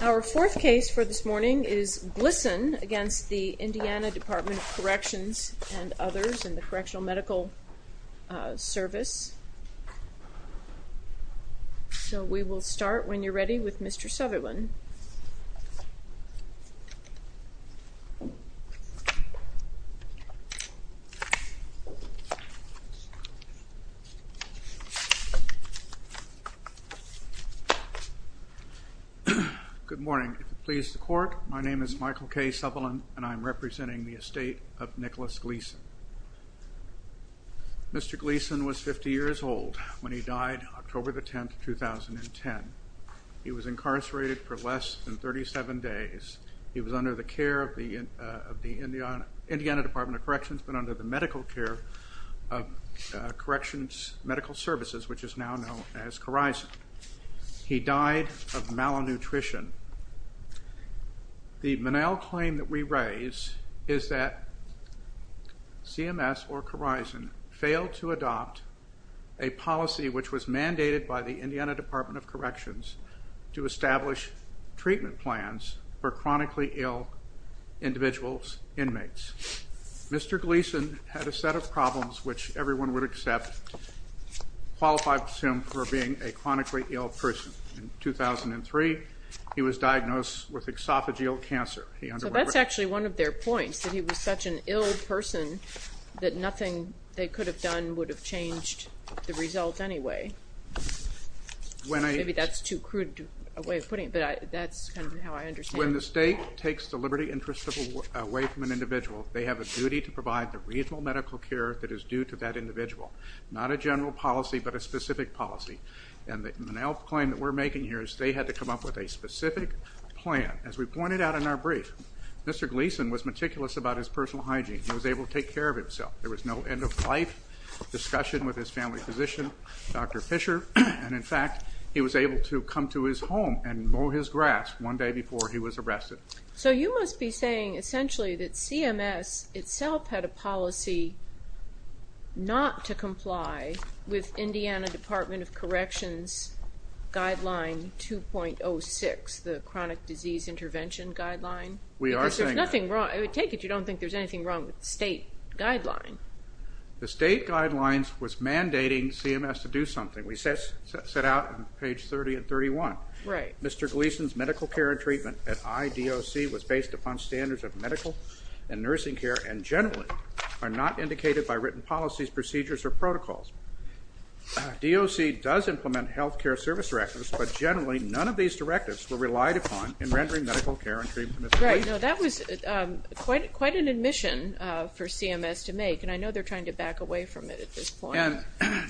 Our fourth case for this morning is Glisson against the Indiana Department of Corrections and others in the Correctional Medical Service. So we will start when you're ready with Mr. Sutherland. Good morning. If it pleases the court, my name is Michael K. Sutherland and I'm representing the estate of Nicholas Glisson. Mr. Glisson was 50 years old when he died October 10, 2010. He was incarcerated for less than 37 days. He was under the care of the Indiana Department of Corrections but under the medical care of Corrections Medical Services, which is now known as Corizon. He died of malnutrition. The Menal claim that we raise is that CMS or Corizon failed to adopt a policy which was mandated by the Indiana Department of Corrections to establish treatment plans for chronically ill individuals, inmates. Mr. Glisson had a set of problems which everyone would accept, qualify, and presume for being a chronically ill person. In 2003, he was diagnosed with esophageal cancer. So that's actually one of their points, that he was such an ill person that nothing they could have done would have changed the result anyway. Maybe that's too crude a way of putting it, but that's kind of how I understand it. When the state takes the liberty interest away from an individual, they have a duty to provide the reasonable medical care that is due to that individual. Not a general policy, but a specific policy. The Menal claim that we're making here is that they had to come up with a specific plan. As we pointed out in our brief, Mr. Glisson was meticulous about his personal hygiene. He was able to take care of himself. There was no end-of-life discussion with his family physician, Dr. Fisher. In fact, he was able to come to his home and mow his grass one day before he was arrested. So you must be saying essentially that CMS itself had a policy not to comply with Indiana Department of Corrections Guideline 2.06, the Chronic Disease Intervention Guideline? We are saying that. Because there's nothing wrong. I would take it you don't think there's anything wrong with the state guideline. The state guideline was mandating CMS to do something. We set out on page 30 and 31. Right. Mr. Glisson's medical care and treatment at IDOC was based upon standards of medical and nursing care and generally are not indicated by written policies, procedures, or protocols. DOC does implement health care service directives, but generally none of these directives were relied upon in rendering medical care and treatment. Right. That was quite an admission for CMS to make, and I know they're trying to back away from it at this point.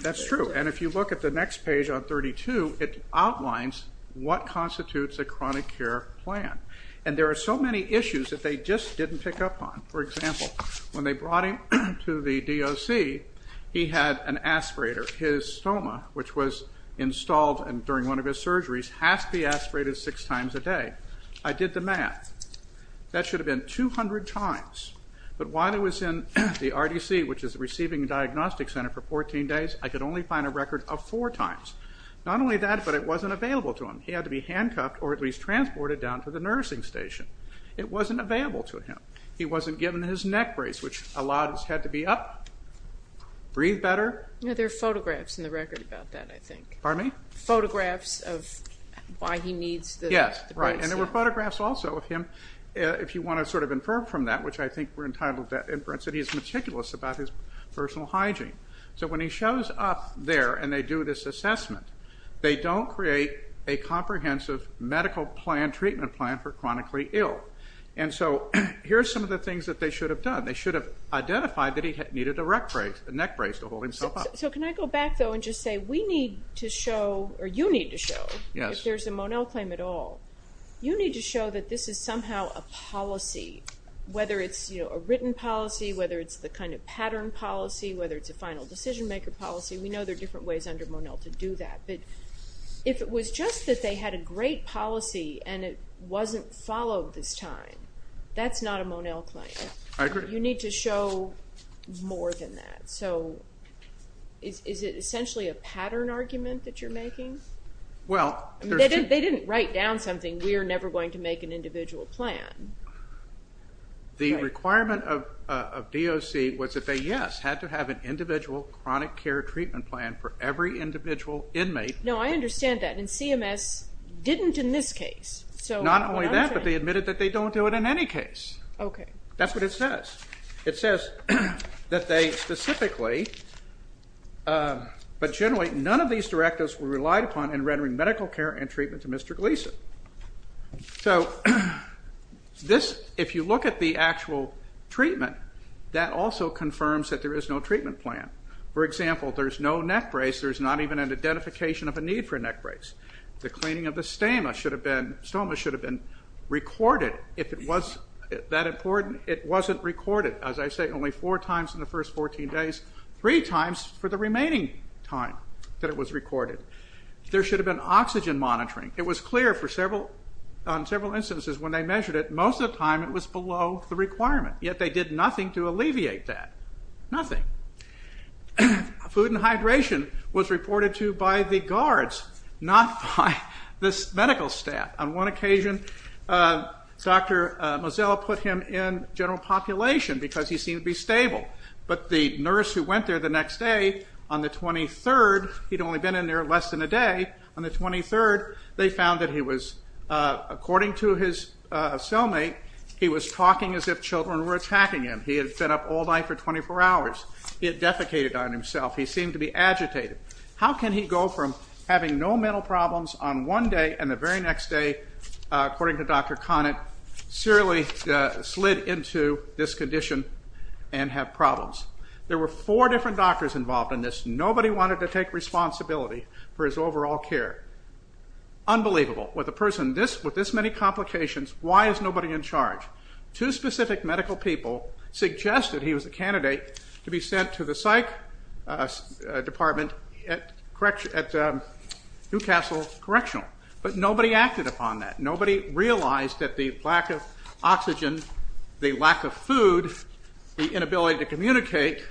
That's true. And if you look at the next page on 32, it outlines what constitutes a chronic care plan. And there are so many issues that they just didn't pick up on. For example, when they brought him to the DOC, he had an aspirator. His stoma, which was installed during one of his surgeries, has to be aspirated six times a day. I did the math. That should have been 200 times. But while he was in the RDC, which is the Receiving and Diagnostic Center, for 14 days, I could only find a record of four times. Not only that, but it wasn't available to him. He had to be handcuffed or at least transported down to the nursing station. It wasn't available to him. He wasn't given his neck brace, which allowed his head to be up, breathe better. There are photographs in the record about that, I think. Pardon me? Photographs of why he needs the brace. Yes, right. And there were photographs also of him, if you want to sort of infer from that, which I think we're entitled to that inference, that he's meticulous about his personal hygiene. So when he shows up there and they do this assessment, they don't create a comprehensive medical plan, treatment plan for chronically ill. And so here are some of the things that they should have done. They should have identified that he needed a neck brace to hold himself up. So can I go back, though, and just say we need to show, or you need to show, if there's a Monell claim at all, you need to show that this is somehow a policy, whether it's a written policy, whether it's the kind of pattern policy, whether it's a final decision-maker policy. We know there are different ways under Monell to do that. But if it was just that they had a great policy and it wasn't followed this time, that's not a Monell claim. I agree. You need to show more than that. So is it essentially a pattern argument that you're making? They didn't write down something. We are never going to make an individual plan. The requirement of DOC was that they, yes, had to have an individual chronic care treatment plan for every individual inmate. No, I understand that. And CMS didn't in this case. Not only that, but they admitted that they don't do it in any case. That's what it says. It says that they specifically, but generally, none of these directives were relied upon in rendering medical care and treatment to Mr. Gleason. So this, if you look at the actual treatment, that also confirms that there is no treatment plan. For example, there's no neck brace. There's not even an identification of a need for a neck brace. The cleaning of the stoma should have been recorded. If it was that important, it wasn't recorded. As I say, only four times in the first 14 days. Three times for the remaining time that it was recorded. There should have been oxygen monitoring. It was clear on several instances when they measured it, most of the time it was below the requirement. Yet they did nothing to alleviate that. Nothing. Food and hydration was reported to by the guards, not by this medical staff. On one occasion, Dr. Mozilla put him in general population because he seemed to be stable. But the nurse who went there the next day, on the 23rd, he'd only been in there less than a day, on the 23rd they found that he was, according to his cellmate, he was talking as if children were attacking him. He had been up all night for 24 hours. He had defecated on himself. He seemed to be agitated. How can he go from having no mental problems on one day and the very next day, according to Dr. Conant, serially slid into this condition and have problems? There were four different doctors involved in this. Nobody wanted to take responsibility for his overall care. Unbelievable. With this many complications, why is nobody in charge? Two specific medical people suggested he was the candidate to be sent to the psych department at Newcastle Correctional. But nobody acted upon that. Nobody realized that the lack of oxygen, the lack of food, the inability to communicate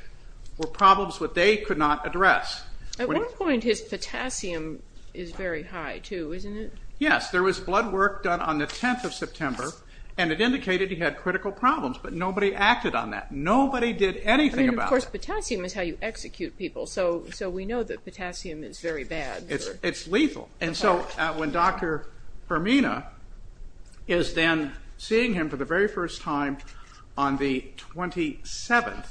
were problems that they could not address. At one point his potassium is very high, too, isn't it? Yes. There was blood work done on the 10th of September, and it indicated he had critical problems. But nobody acted on that. Nobody did anything about it. Of course, potassium is how you execute people, so we know that potassium is very bad. It's lethal. And so when Dr. Fermina is then seeing him for the very first time on the 27th,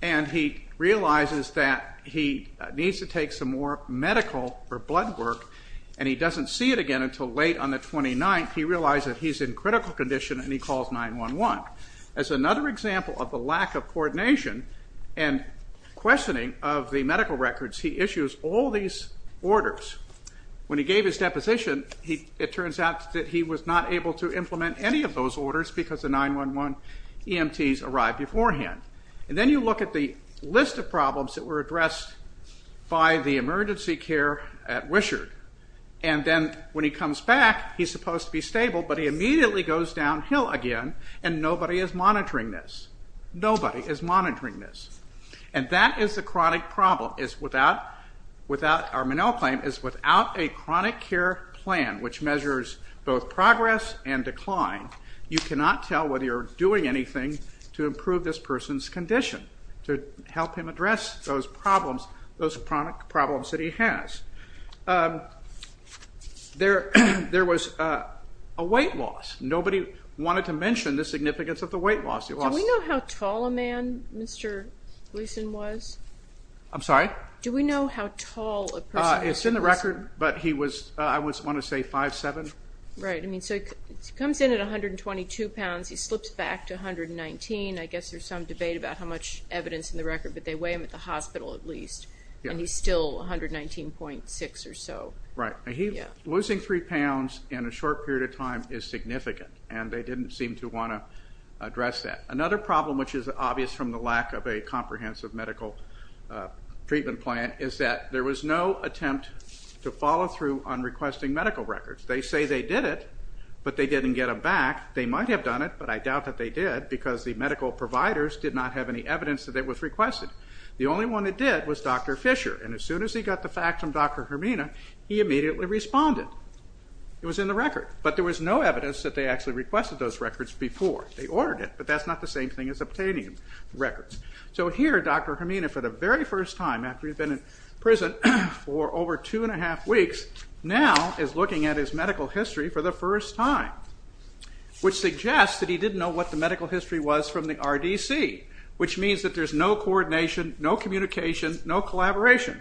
and he realizes that he needs to take some more medical or blood work and he doesn't see it again until late on the 29th, he realizes he's in critical condition and he calls 911. As another example of the lack of coordination and questioning of the medical records, he issues all these orders. When he gave his deposition, it turns out that he was not able to implement any of those orders because the 911 EMTs arrived beforehand. And then you look at the list of problems that were addressed by the emergency care at Wishart, and then when he comes back he's supposed to be stable, but he immediately goes downhill again, and nobody is monitoring this. Nobody is monitoring this. And that is the chronic problem. Our Minnell claim is without a chronic care plan, which measures both progress and decline, you cannot tell whether you're doing anything to improve this person's condition, to help him address those problems, those chronic problems that he has. There was a weight loss. Nobody wanted to mention the significance of the weight loss. Do we know how tall a man Mr. Gleason was? I'm sorry? Do we know how tall a person was? It's in the record, but he was, I want to say, 5'7". Right. So he comes in at 122 pounds. He slips back to 119. I guess there's some debate about how much evidence in the record, but they weigh him at the hospital at least, and he's still 119.6 or so. Right. Losing 3 pounds in a short period of time is significant, and they didn't seem to want to address that. Another problem, which is obvious from the lack of a comprehensive medical treatment plan, is that there was no attempt to follow through on requesting medical records. They say they did it, but they didn't get them back. They might have done it, but I doubt that they did, because the medical providers did not have any evidence that it was requested. The only one that did was Dr. Fisher, and as soon as he got the fact from Dr. Hermina, he immediately responded. It was in the record. But there was no evidence that they actually requested those records before. They ordered it, but that's not the same thing as obtaining records. So here, Dr. Hermina, for the very first time, after he'd been in prison for over two and a half weeks, now is looking at his medical history for the first time, which suggests that he didn't know what the medical history was from the RDC, which means that there's no coordination, no communication, no collaboration.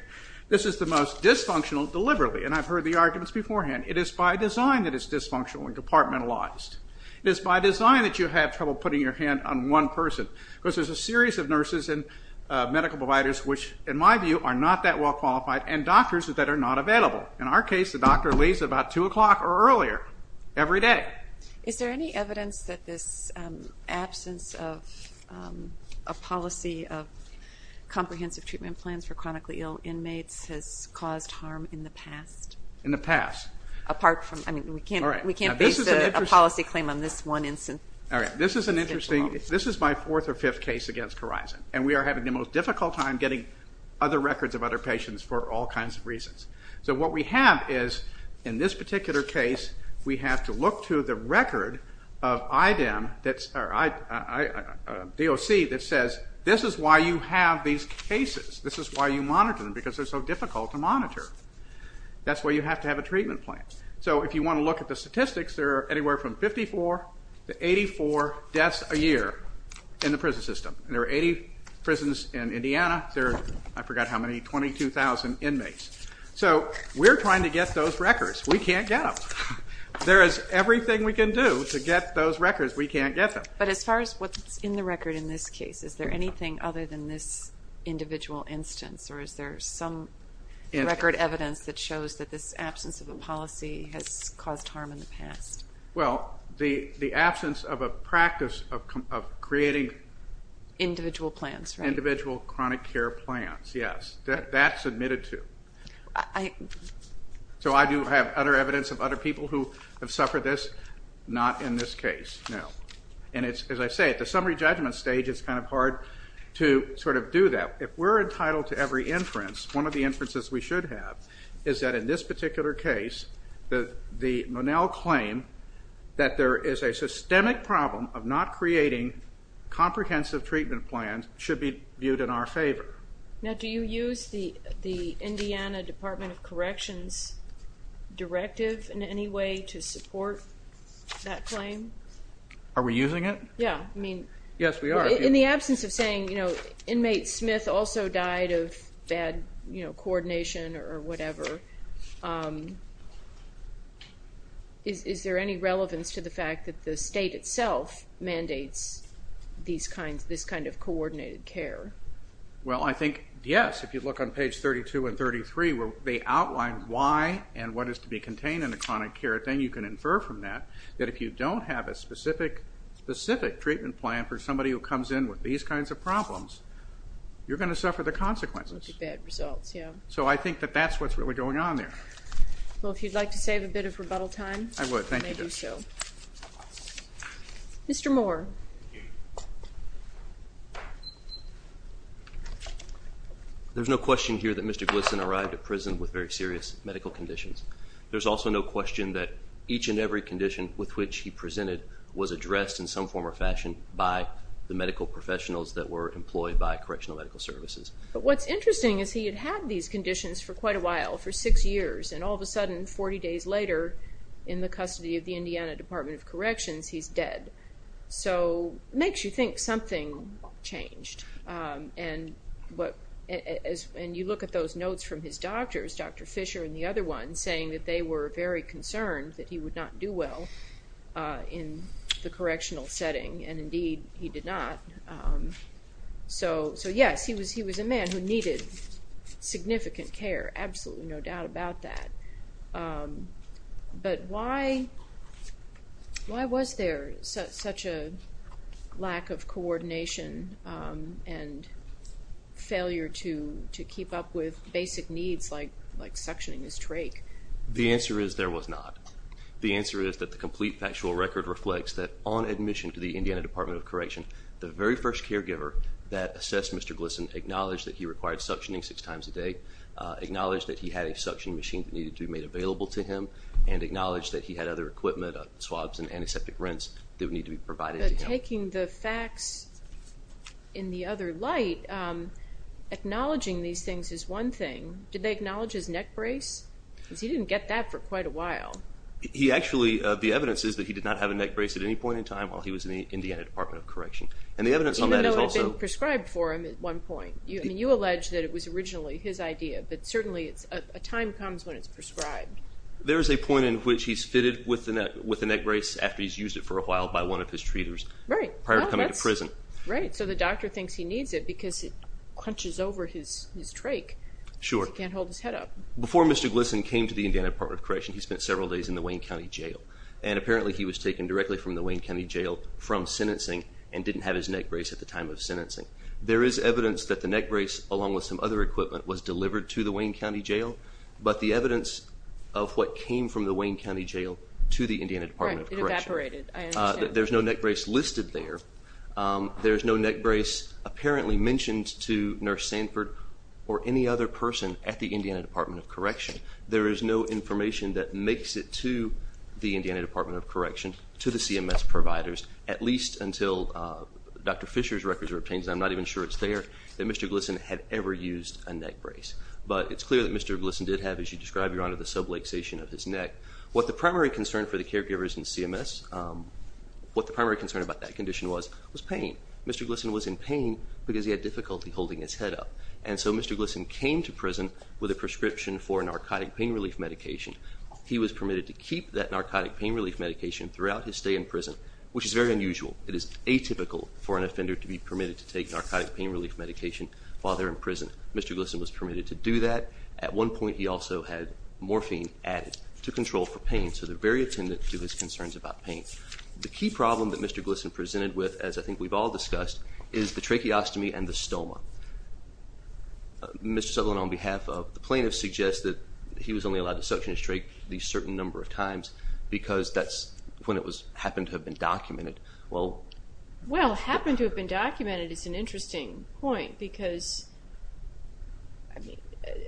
This is the most dysfunctional deliberately, and I've heard the arguments beforehand. It is by design that it's dysfunctional and departmentalized. It is by design that you have trouble putting your hand on one person, because there's a series of nurses and medical providers, which in my view are not that well qualified, and doctors that are not available. In our case, the doctor leaves about 2 o'clock or earlier every day. Is there any evidence that this absence of a policy of comprehensive treatment plans for chronically ill inmates has caused harm in the past? In the past? Apart from, I mean, we can't base a policy claim on this one instance. All right. This is an interesting, this is my fourth or fifth case against Khorizan, and we are having the most difficult time getting other records of other patients for all kinds of reasons. So what we have is, in this particular case, we have to look to the record of IDEM, or DOC, that says, this is why you have these cases. This is why you monitor them, because they're so difficult to monitor. That's why you have to have a treatment plan. So if you want to look at the statistics, there are anywhere from 54 to 84 deaths a year in the prison system. There are 80 prisons in Indiana. There are, I forgot how many, 22,000 inmates. So we're trying to get those records. We can't get them. There is everything we can do to get those records. We can't get them. But as far as what's in the record in this case, is there anything other than this individual instance, or is there some record evidence that shows that this absence of a policy has caused harm in the past? Well, the absence of a practice of creating individual chronic care plans, yes. That's admitted to. So I do have other evidence of other people who have suffered this. Not in this case, no. And as I say, at the summary judgment stage, it's kind of hard to sort of do that. If we're entitled to every inference, one of the inferences we should have is that in this particular case, the Monell claim that there is a systemic problem of not creating comprehensive treatment plans should be viewed in our favor. Now, do you use the Indiana Department of Corrections directive in any way to support that claim? Are we using it? Yeah. Yes, we are. In the absence of saying, you know, inmate Smith also died of bad coordination or whatever, is there any relevance to the fact that the state itself mandates this kind of coordinated care? Well, I think, yes. If you look on page 32 and 33 where they outline why and what is to be contained in a chronic care, then you can infer from that that if you don't have a specific treatment plan for somebody who comes in with these kinds of problems, you're going to suffer the consequences. Bad results, yeah. So I think that that's what's really going on there. Well, if you'd like to save a bit of rebuttal time. I would. Thank you, Judge. You may do so. Mr. Moore. There's no question here that Mr. Glisson arrived at prison with very serious medical conditions. There's also no question that each and every condition with which he presented was addressed in some form or fashion by the medical professionals that were employed by Correctional Medical Services. But what's interesting is he had had these conditions for quite a while, for six years, and all of a sudden, 40 days later, in the custody of the Indiana Department of Corrections, he's dead. So it makes you think something changed. And you look at those notes from his doctors, Dr. Fisher and the other one, saying that they were very concerned that he would not do well in the correctional setting, and indeed he did not. So, yes, he was a man who needed significant care, absolutely no doubt about that. But why was there such a lack of coordination and failure to keep up with basic needs like suctioning his trach? The answer is there was not. The answer is that the complete factual record reflects that, on admission to the Indiana Department of Corrections, the very first caregiver that assessed Mr. Glisson acknowledged that he required suctioning six times a day, acknowledged that he had a suction machine that needed to be made available to him, and acknowledged that he had other equipment, swabs and antiseptic rinse, that would need to be provided to him. Taking the facts in the other light, acknowledging these things is one thing. Did they acknowledge his neck brace? Because he didn't get that for quite a while. The evidence is that he did not have a neck brace at any point in time while he was in the Indiana Department of Correction. Even though it had been prescribed for him at one point. You allege that it was originally his idea, but certainly a time comes when it's prescribed. There is a point in which he's fitted with a neck brace after he's used it for a while by one of his treaters prior to coming to prison. Right, so the doctor thinks he needs it because it crunches over his trach. Sure. Because he can't hold his head up. Before Mr. Glisson came to the Indiana Department of Correction, he spent several days in the Wayne County Jail, and apparently he was taken directly from the Wayne County Jail from sentencing and didn't have his neck brace at the time of sentencing. There is evidence that the neck brace, along with some other equipment, was delivered to the Wayne County Jail, but the evidence of what came from the Wayne County Jail to the Indiana Department of Correction. Right, it evaporated. I understand. There's no neck brace listed there. There's no neck brace apparently mentioned to Nurse Sanford or any other person at the Indiana Department of Correction. There is no information that makes it to the Indiana Department of Correction, to the CMS providers, at least until Dr. Fisher's records are obtained. I'm not even sure it's there that Mr. Glisson had ever used a neck brace. But it's clear that Mr. Glisson did have, as you describe, Your Honor, the subluxation of his neck. What the primary concern for the caregivers in CMS, what the primary concern about that condition was, was pain. Mr. Glisson was in pain because he had difficulty holding his head up. And so Mr. Glisson came to prison with a prescription for a narcotic pain relief medication. He was permitted to keep that narcotic pain relief medication throughout his stay in prison, which is very unusual. It is atypical for an offender to be permitted to take narcotic pain relief medication while they're in prison. Mr. Glisson was permitted to do that. At one point he also had morphine added to control for pain. So they're very attendant to his concerns about pain. The key problem that Mr. Glisson presented with, as I think we've all discussed, is the tracheostomy and the stoma. Mr. Sutherland, on behalf of the plaintiffs, suggests that he was only allowed to suction his trachea a certain number of times because that's when it happened to have been documented. Well, it happened to have been documented is an interesting point, because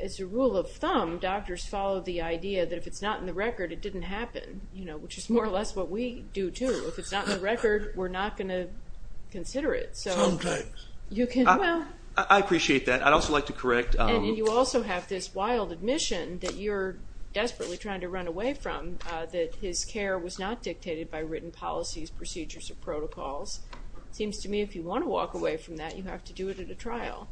as a rule of thumb, doctors follow the idea that if it's not in the record, it didn't happen, which is more or less what we do, too. If it's not in the record, we're not going to consider it. Sometimes. I appreciate that. I'd also like to correct... And you also have this wild admission that you're desperately trying to run away from, that his care was not dictated by written policies, procedures, or protocols. It seems to me if you want to walk away from that, you have to do it at a trial.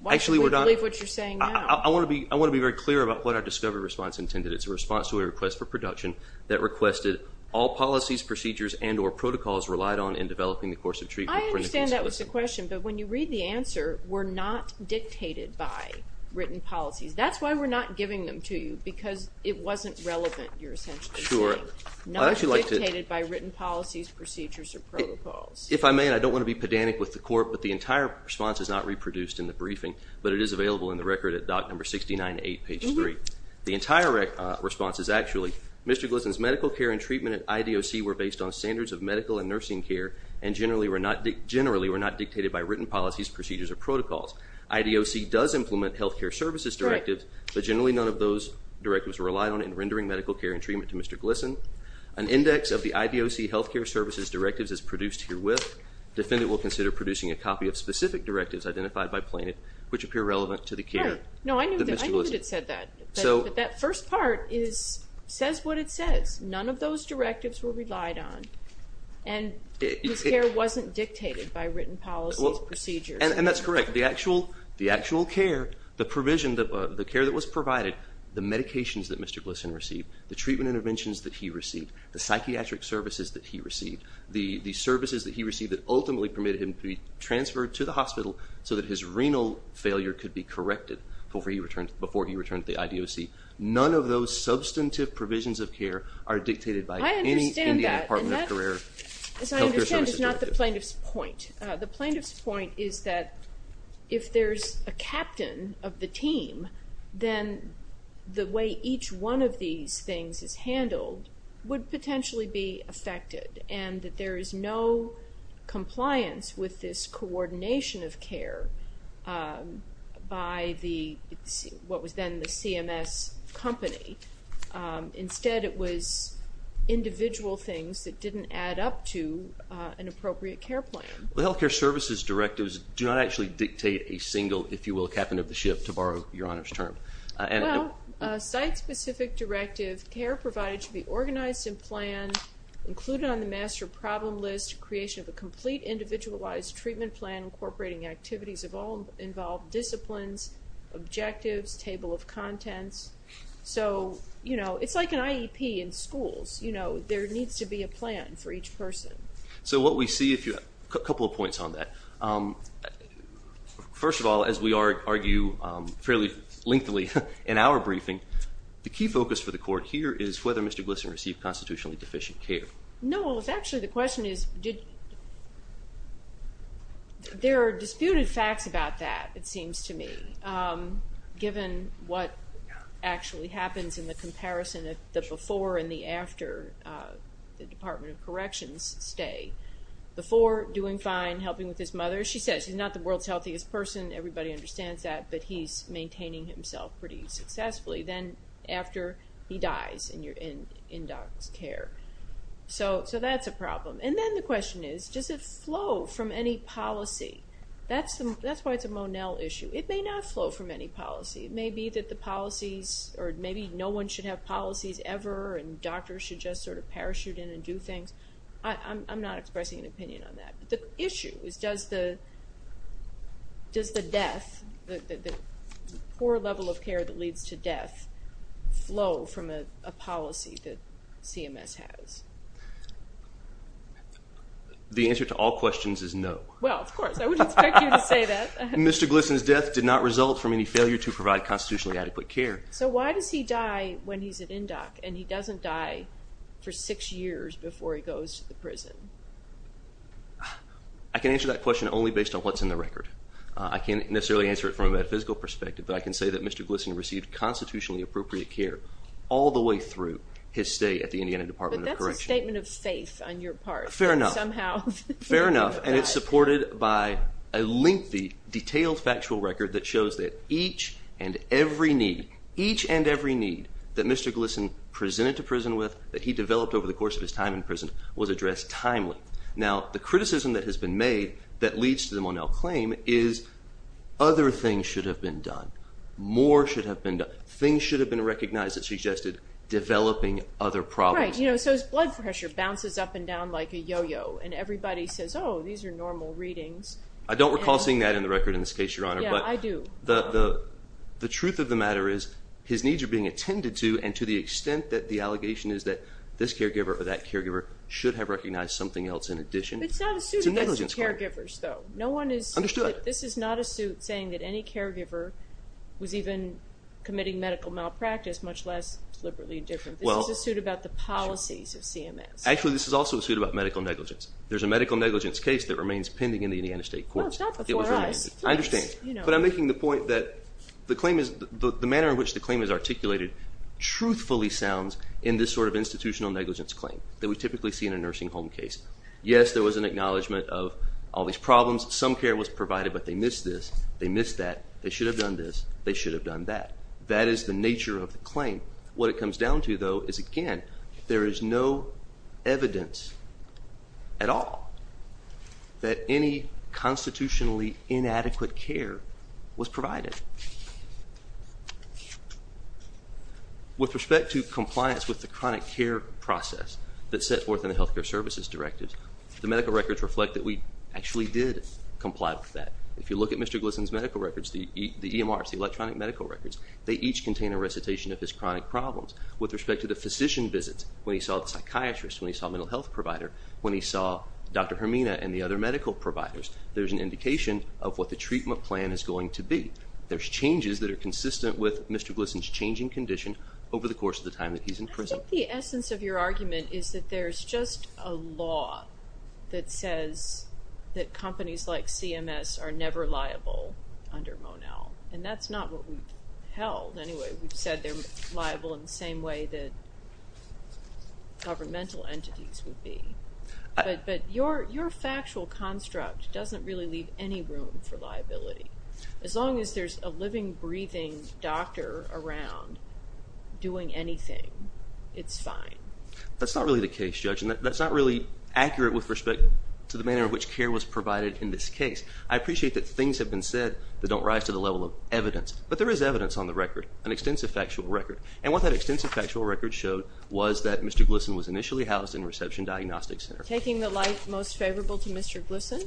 Why should we believe what you're saying now? I want to be very clear about what our discovery response intended. It's a response to a request for production that requested all policies, procedures, and or protocols relied on in developing the course of treatment for Nicholas Glisson. I understand that was the question, but when you read the answer, we're not dictated by written policies. That's why we're not giving them to you, because it wasn't relevant, you're essentially saying. Not dictated by written policies, procedures, or protocols. If I may, and I don't want to be pedantic with the court, but the entire response is not reproduced in the briefing, but it is available in the record at doc number 69A, page 3. The entire response is actually, Mr. Glisson's medical care and treatment at IDOC were based on standards of medical and nursing care and generally were not dictated by written policies, procedures, or protocols. IDOC does implement health care services directives, but generally none of those directives rely on in rendering medical care and treatment to Mr. Glisson. An index of the IDOC health care services directives is produced herewith. Defendant will consider producing a copy of specific directives identified by plaintiff, which appear relevant to the care. No, I knew that it said that. But that first part says what it says. None of those directives were relied on, and this care wasn't dictated by written policies, procedures. And that's correct. The actual care, the provision, the care that was provided, the medications that Mr. Glisson received, the treatment interventions that he received, the psychiatric services that he received, the services that he received that ultimately permitted him to be transferred to the hospital so that his renal failure could be corrected before he returned to the IDOC. None of those substantive provisions of care are dictated by any Indian Department of Career health care services directive. I understand that, and that, as I understand, is not the plaintiff's point. The plaintiff's point is that if there's a captain of the team, then the way each one of these things is handled would potentially be affected, and that there is no compliance with this coordination of care by what was then the CMS company. Instead, it was individual things that didn't add up to an appropriate care plan. Well, health care services directives do not actually dictate a single, if you will, captain of the ship, to borrow your Honor's term. Well, a site-specific directive, care provided to be organized and planned, included on the master problem list, creation of a complete individualized treatment plan, incorporating activities of all involved disciplines, objectives, table of contents. So, you know, it's like an IEP in schools. You know, there needs to be a plan for each person. So what we see, if you have a couple of points on that, first of all, as we argue fairly lengthily in our briefing, the key focus for the court here is whether Mr. Glisson received constitutionally deficient care. No, well, it's actually, the question is, there are disputed facts about that, it seems to me, given what actually happens in the comparison of the before and the after, the Department of Corrections stay. Before, doing fine, helping with his mother. She says he's not the world's healthiest person, everybody understands that, but he's maintaining himself pretty successfully. Then after, he dies in in-docs care. So that's a problem. And then the question is, does it flow from any policy? That's why it's a Monell issue. It may not flow from any policy. It may be that the policies, or maybe no one should have policies ever, and doctors should just sort of parachute in and do things. I'm not expressing an opinion on that. But the issue is, does the death, the poor level of care that leads to death, flow from a policy that CMS has? The answer to all questions is no. Well, of course, I would expect you to say that. Mr. Glisson's death did not result from any failure to provide constitutionally adequate care. So why does he die when he's in in-doc, and he doesn't die for six years before he goes to the prison? I can answer that question only based on what's in the record. I can't necessarily answer it from a metaphysical perspective, but I can say that Mr. Glisson received constitutionally appropriate care all the way through his stay at the Indiana Department of Corrections. But that's a statement of faith on your part. Fair enough. Somehow. Fair enough, and it's supported by a lengthy, detailed factual record that shows that each and every need, each and every need, that Mr. Glisson presented to prison with, that he developed over the course of his time in prison, was addressed timely. Now, the criticism that has been made that leads to the Monell claim is other things should have been done. More should have been done. Things should have been recognized that suggested developing other problems. Right. You know, so his blood pressure bounces up and down like a yo-yo, and everybody says, oh, these are normal readings. I don't recall seeing that in the record in this case, Your Honor. Yeah, I do. The truth of the matter is his needs are being attended to, and to the extent that the allegation is that this caregiver or that caregiver should have recognized something else in addition. It's not a suit against the caregivers, though. Understood. This is not a suit saying that any caregiver was even committing medical malpractice, much less deliberately indifferent. This is a suit about the policies of CMS. Actually, this is also a suit about medical negligence. There's a medical negligence case that remains pending in the Indiana State Courts. Well, it's not before us. I understand. But I'm making the point that the claim is the manner in which the claim is articulated truthfully sounds in this sort of institutional negligence claim that we typically see in a nursing home case. Yes, there was an acknowledgment of all these problems. Some care was provided, but they missed this. They missed that. They should have done this. They should have done that. That is the nature of the claim. What it comes down to, though, is, again, there is no evidence at all that any constitutionally inadequate care was provided. With respect to compliance with the chronic care process that's set forth in the Healthcare Services Directive, the medical records reflect that we actually did comply with that. If you look at Mr. Glisson's medical records, the EMRs, the electronic medical records, they each contain a recitation of his chronic problems. With respect to the physician visits, when he saw the psychiatrist, when he saw the mental health provider, when he saw Dr. Hermina and the other medical providers, there's an indication of what the treatment plan is going to be. There's changes that are consistent with Mr. Glisson's changing condition over the course of the time that he's in prison. I think the essence of your argument is that there's just a law that says that companies like CMS are never liable under Monell, and that's not what we've held anyway. We've said they're liable in the same way that governmental entities would be. But your factual construct doesn't really leave any room for liability. As long as there's a living, breathing doctor around doing anything, it's fine. That's not really the case, Judge, and that's not really accurate with respect to the manner in which care was provided in this case. I appreciate that things have been said that don't rise to the level of evidence, but there is evidence on the record, an extensive factual record. And what that extensive factual record showed was that Mr. Glisson was initially housed in a reception diagnostic center. Taking the light most favorable to Mr. Glisson?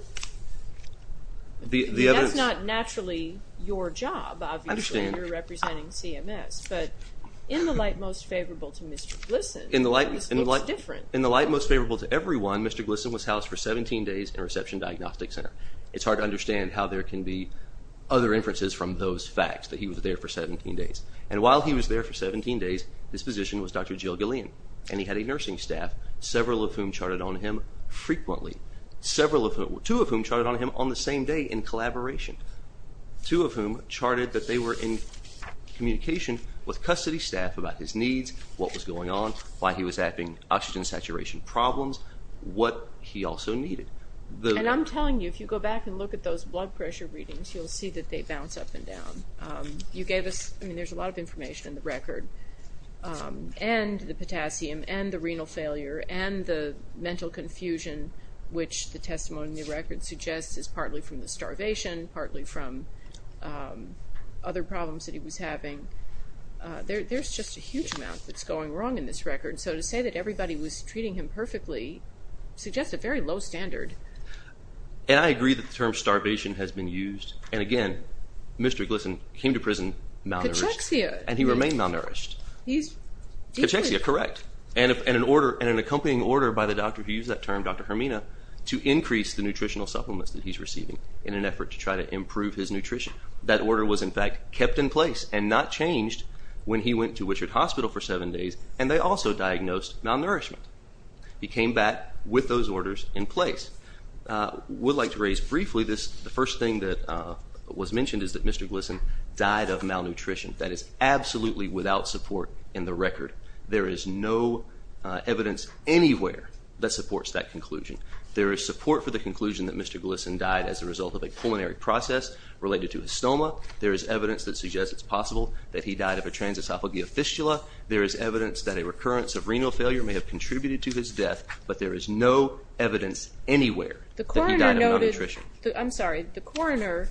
That's not naturally your job, obviously. I understand. You're representing CMS, but in the light most favorable to Mr. Glisson, this looks different. In the light most favorable to everyone, Mr. Glisson was housed for 17 days in a reception diagnostic center. It's hard to understand how there can be other inferences from those facts, that he was there for 17 days. And while he was there for 17 days, his physician was Dr. Jill Gillian, and he had a nursing staff, several of whom charted on him frequently, two of whom charted on him on the same day in collaboration, two of whom charted that they were in communication with custody staff about his needs, what was going on, why he was having oxygen saturation problems, what he also needed. And I'm telling you, if you go back and look at those blood pressure readings, you'll see that they bounce up and down. There's a lot of information in the record, and the potassium, and the renal failure, and the mental confusion, which the testimony in the record suggests is partly from the starvation, partly from other problems that he was having. There's just a huge amount that's going wrong in this record. So to say that everybody was treating him perfectly suggests a very low standard and I agree that the term starvation has been used. And again, Mr. Glisson came to prison malnourished. Cachexia. And he remained malnourished. Cachexia, correct. And an accompanying order by the doctor who used that term, Dr. Hermina, to increase the nutritional supplements that he's receiving in an effort to try to improve his nutrition. That order was, in fact, kept in place and not changed when he went to Wichert Hospital for 7 days, and they also diagnosed malnourishment. He came back with those orders in place. I would like to raise briefly the first thing that was mentioned is that Mr. Glisson died of malnutrition. That is absolutely without support in the record. There is no evidence anywhere that supports that conclusion. There is support for the conclusion that Mr. Glisson died as a result of a pulmonary process related to his stoma. There is evidence that suggests it's possible that he died of a transesophageal fistula. There is evidence that a recurrence of renal failure may have contributed to his death, but there is no evidence anywhere that he died of malnutrition. I'm sorry. The coroner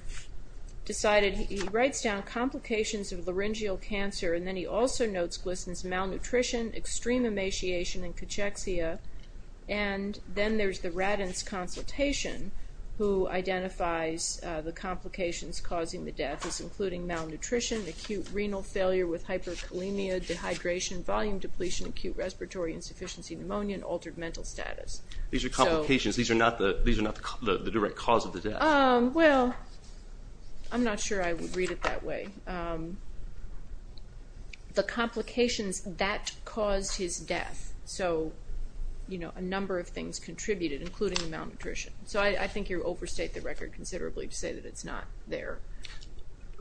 decided he writes down complications of laryngeal cancer, and then he also notes Glisson's malnutrition, extreme emaciation, and cachexia. And then there's the Radins consultation, who identifies the complications causing the death as including malnutrition, acute renal failure with hyperkalemia, dehydration, volume depletion, acute respiratory insufficiency, pneumonia, and altered mental status. These are complications. These are not the direct cause of the death. Well, I'm not sure I would read it that way. The complications that caused his death. So a number of things contributed, including malnutrition. So I think you overstate the record considerably to say that it's not there.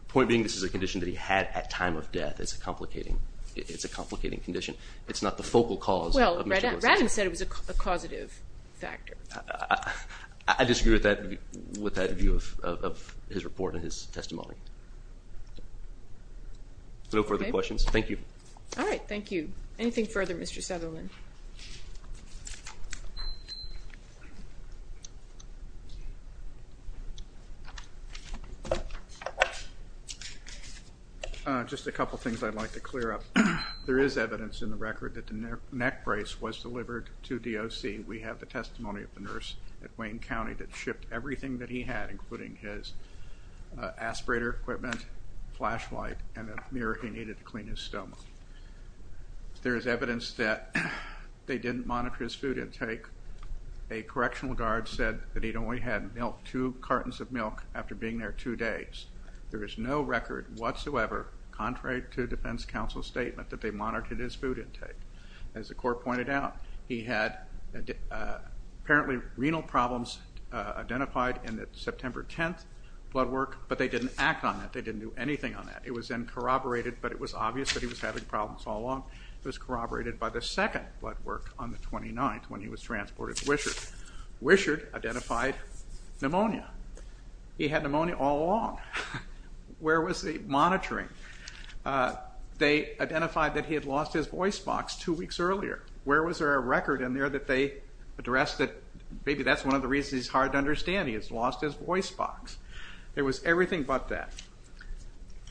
Point being, this is a condition that he had at time of death. It's a complicating condition. It's not the focal cause. Well, Radins said it was a causative factor. I disagree with that view of his report and his testimony. No further questions. Thank you. All right. Thank you. Anything further, Mr. Sutherland? Just a couple things I'd like to clear up. There is evidence in the record that the neck brace was delivered to DOC. We have the testimony of the nurse at Wayne County that shipped everything that he had, including his aspirator equipment, flashlight, and a mirror he needed to clean his stomach. There is evidence that they didn't monitor his food intake. A correctional guard said that he'd only had two cartons of milk after being there two days. There is no record whatsoever, contrary to defense counsel's statement, that they monitored his food intake. As the court pointed out, he had apparently renal problems identified in the September 10th blood work, but they didn't act on that. They didn't do anything on that. It was then corroborated, but it was obvious that he was having problems all along. It was corroborated by the second blood work on the 29th when he was transported to Wishart. Wishart identified pneumonia. He had pneumonia all along. Where was the monitoring? They identified that he had lost his voice box two weeks earlier. Where was there a record in there that they addressed that maybe that's one of the reasons he's hard to understand. He has lost his voice box. There was everything but that.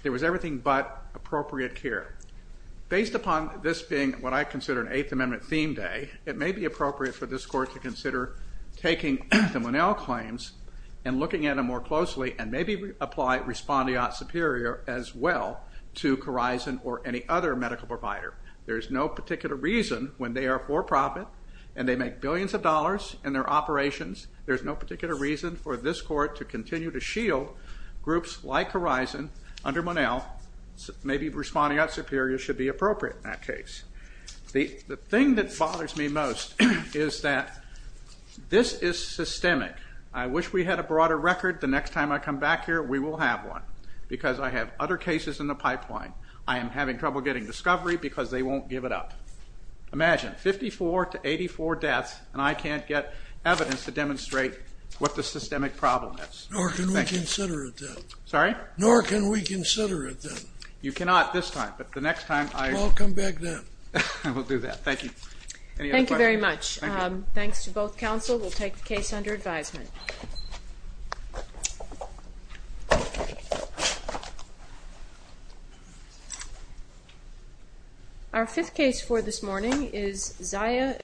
There was everything but appropriate care. Based upon this being what I consider an Eighth Amendment theme day, it may be appropriate for this court to consider taking the Monell claims and looking at them more closely and maybe apply respondeat superior as well to Corizon or any other medical provider. There's no particular reason when they are for profit and they make billions of dollars in their operations, there's no particular reason for this court to continue to shield groups like Corizon under Monell. Maybe respondeat superior should be appropriate in that case. The thing that bothers me most is that this is systemic. I wish we had a broader record. The next time I come back here, we will have one because I have other cases in the pipeline. I am having trouble getting discovery because they won't give it up. Imagine, 54 to 84 deaths, and I can't get evidence to demonstrate what the systemic problem is. Nor can we consider it then. Sorry? Nor can we consider it then. You cannot this time, but the next time. Well, I'll come back then. We'll do that. Thank you. Any other questions? Thank you very much. Thanks to both counsel. We'll take the case under advisement. Our fifth case for this morning is Zaya.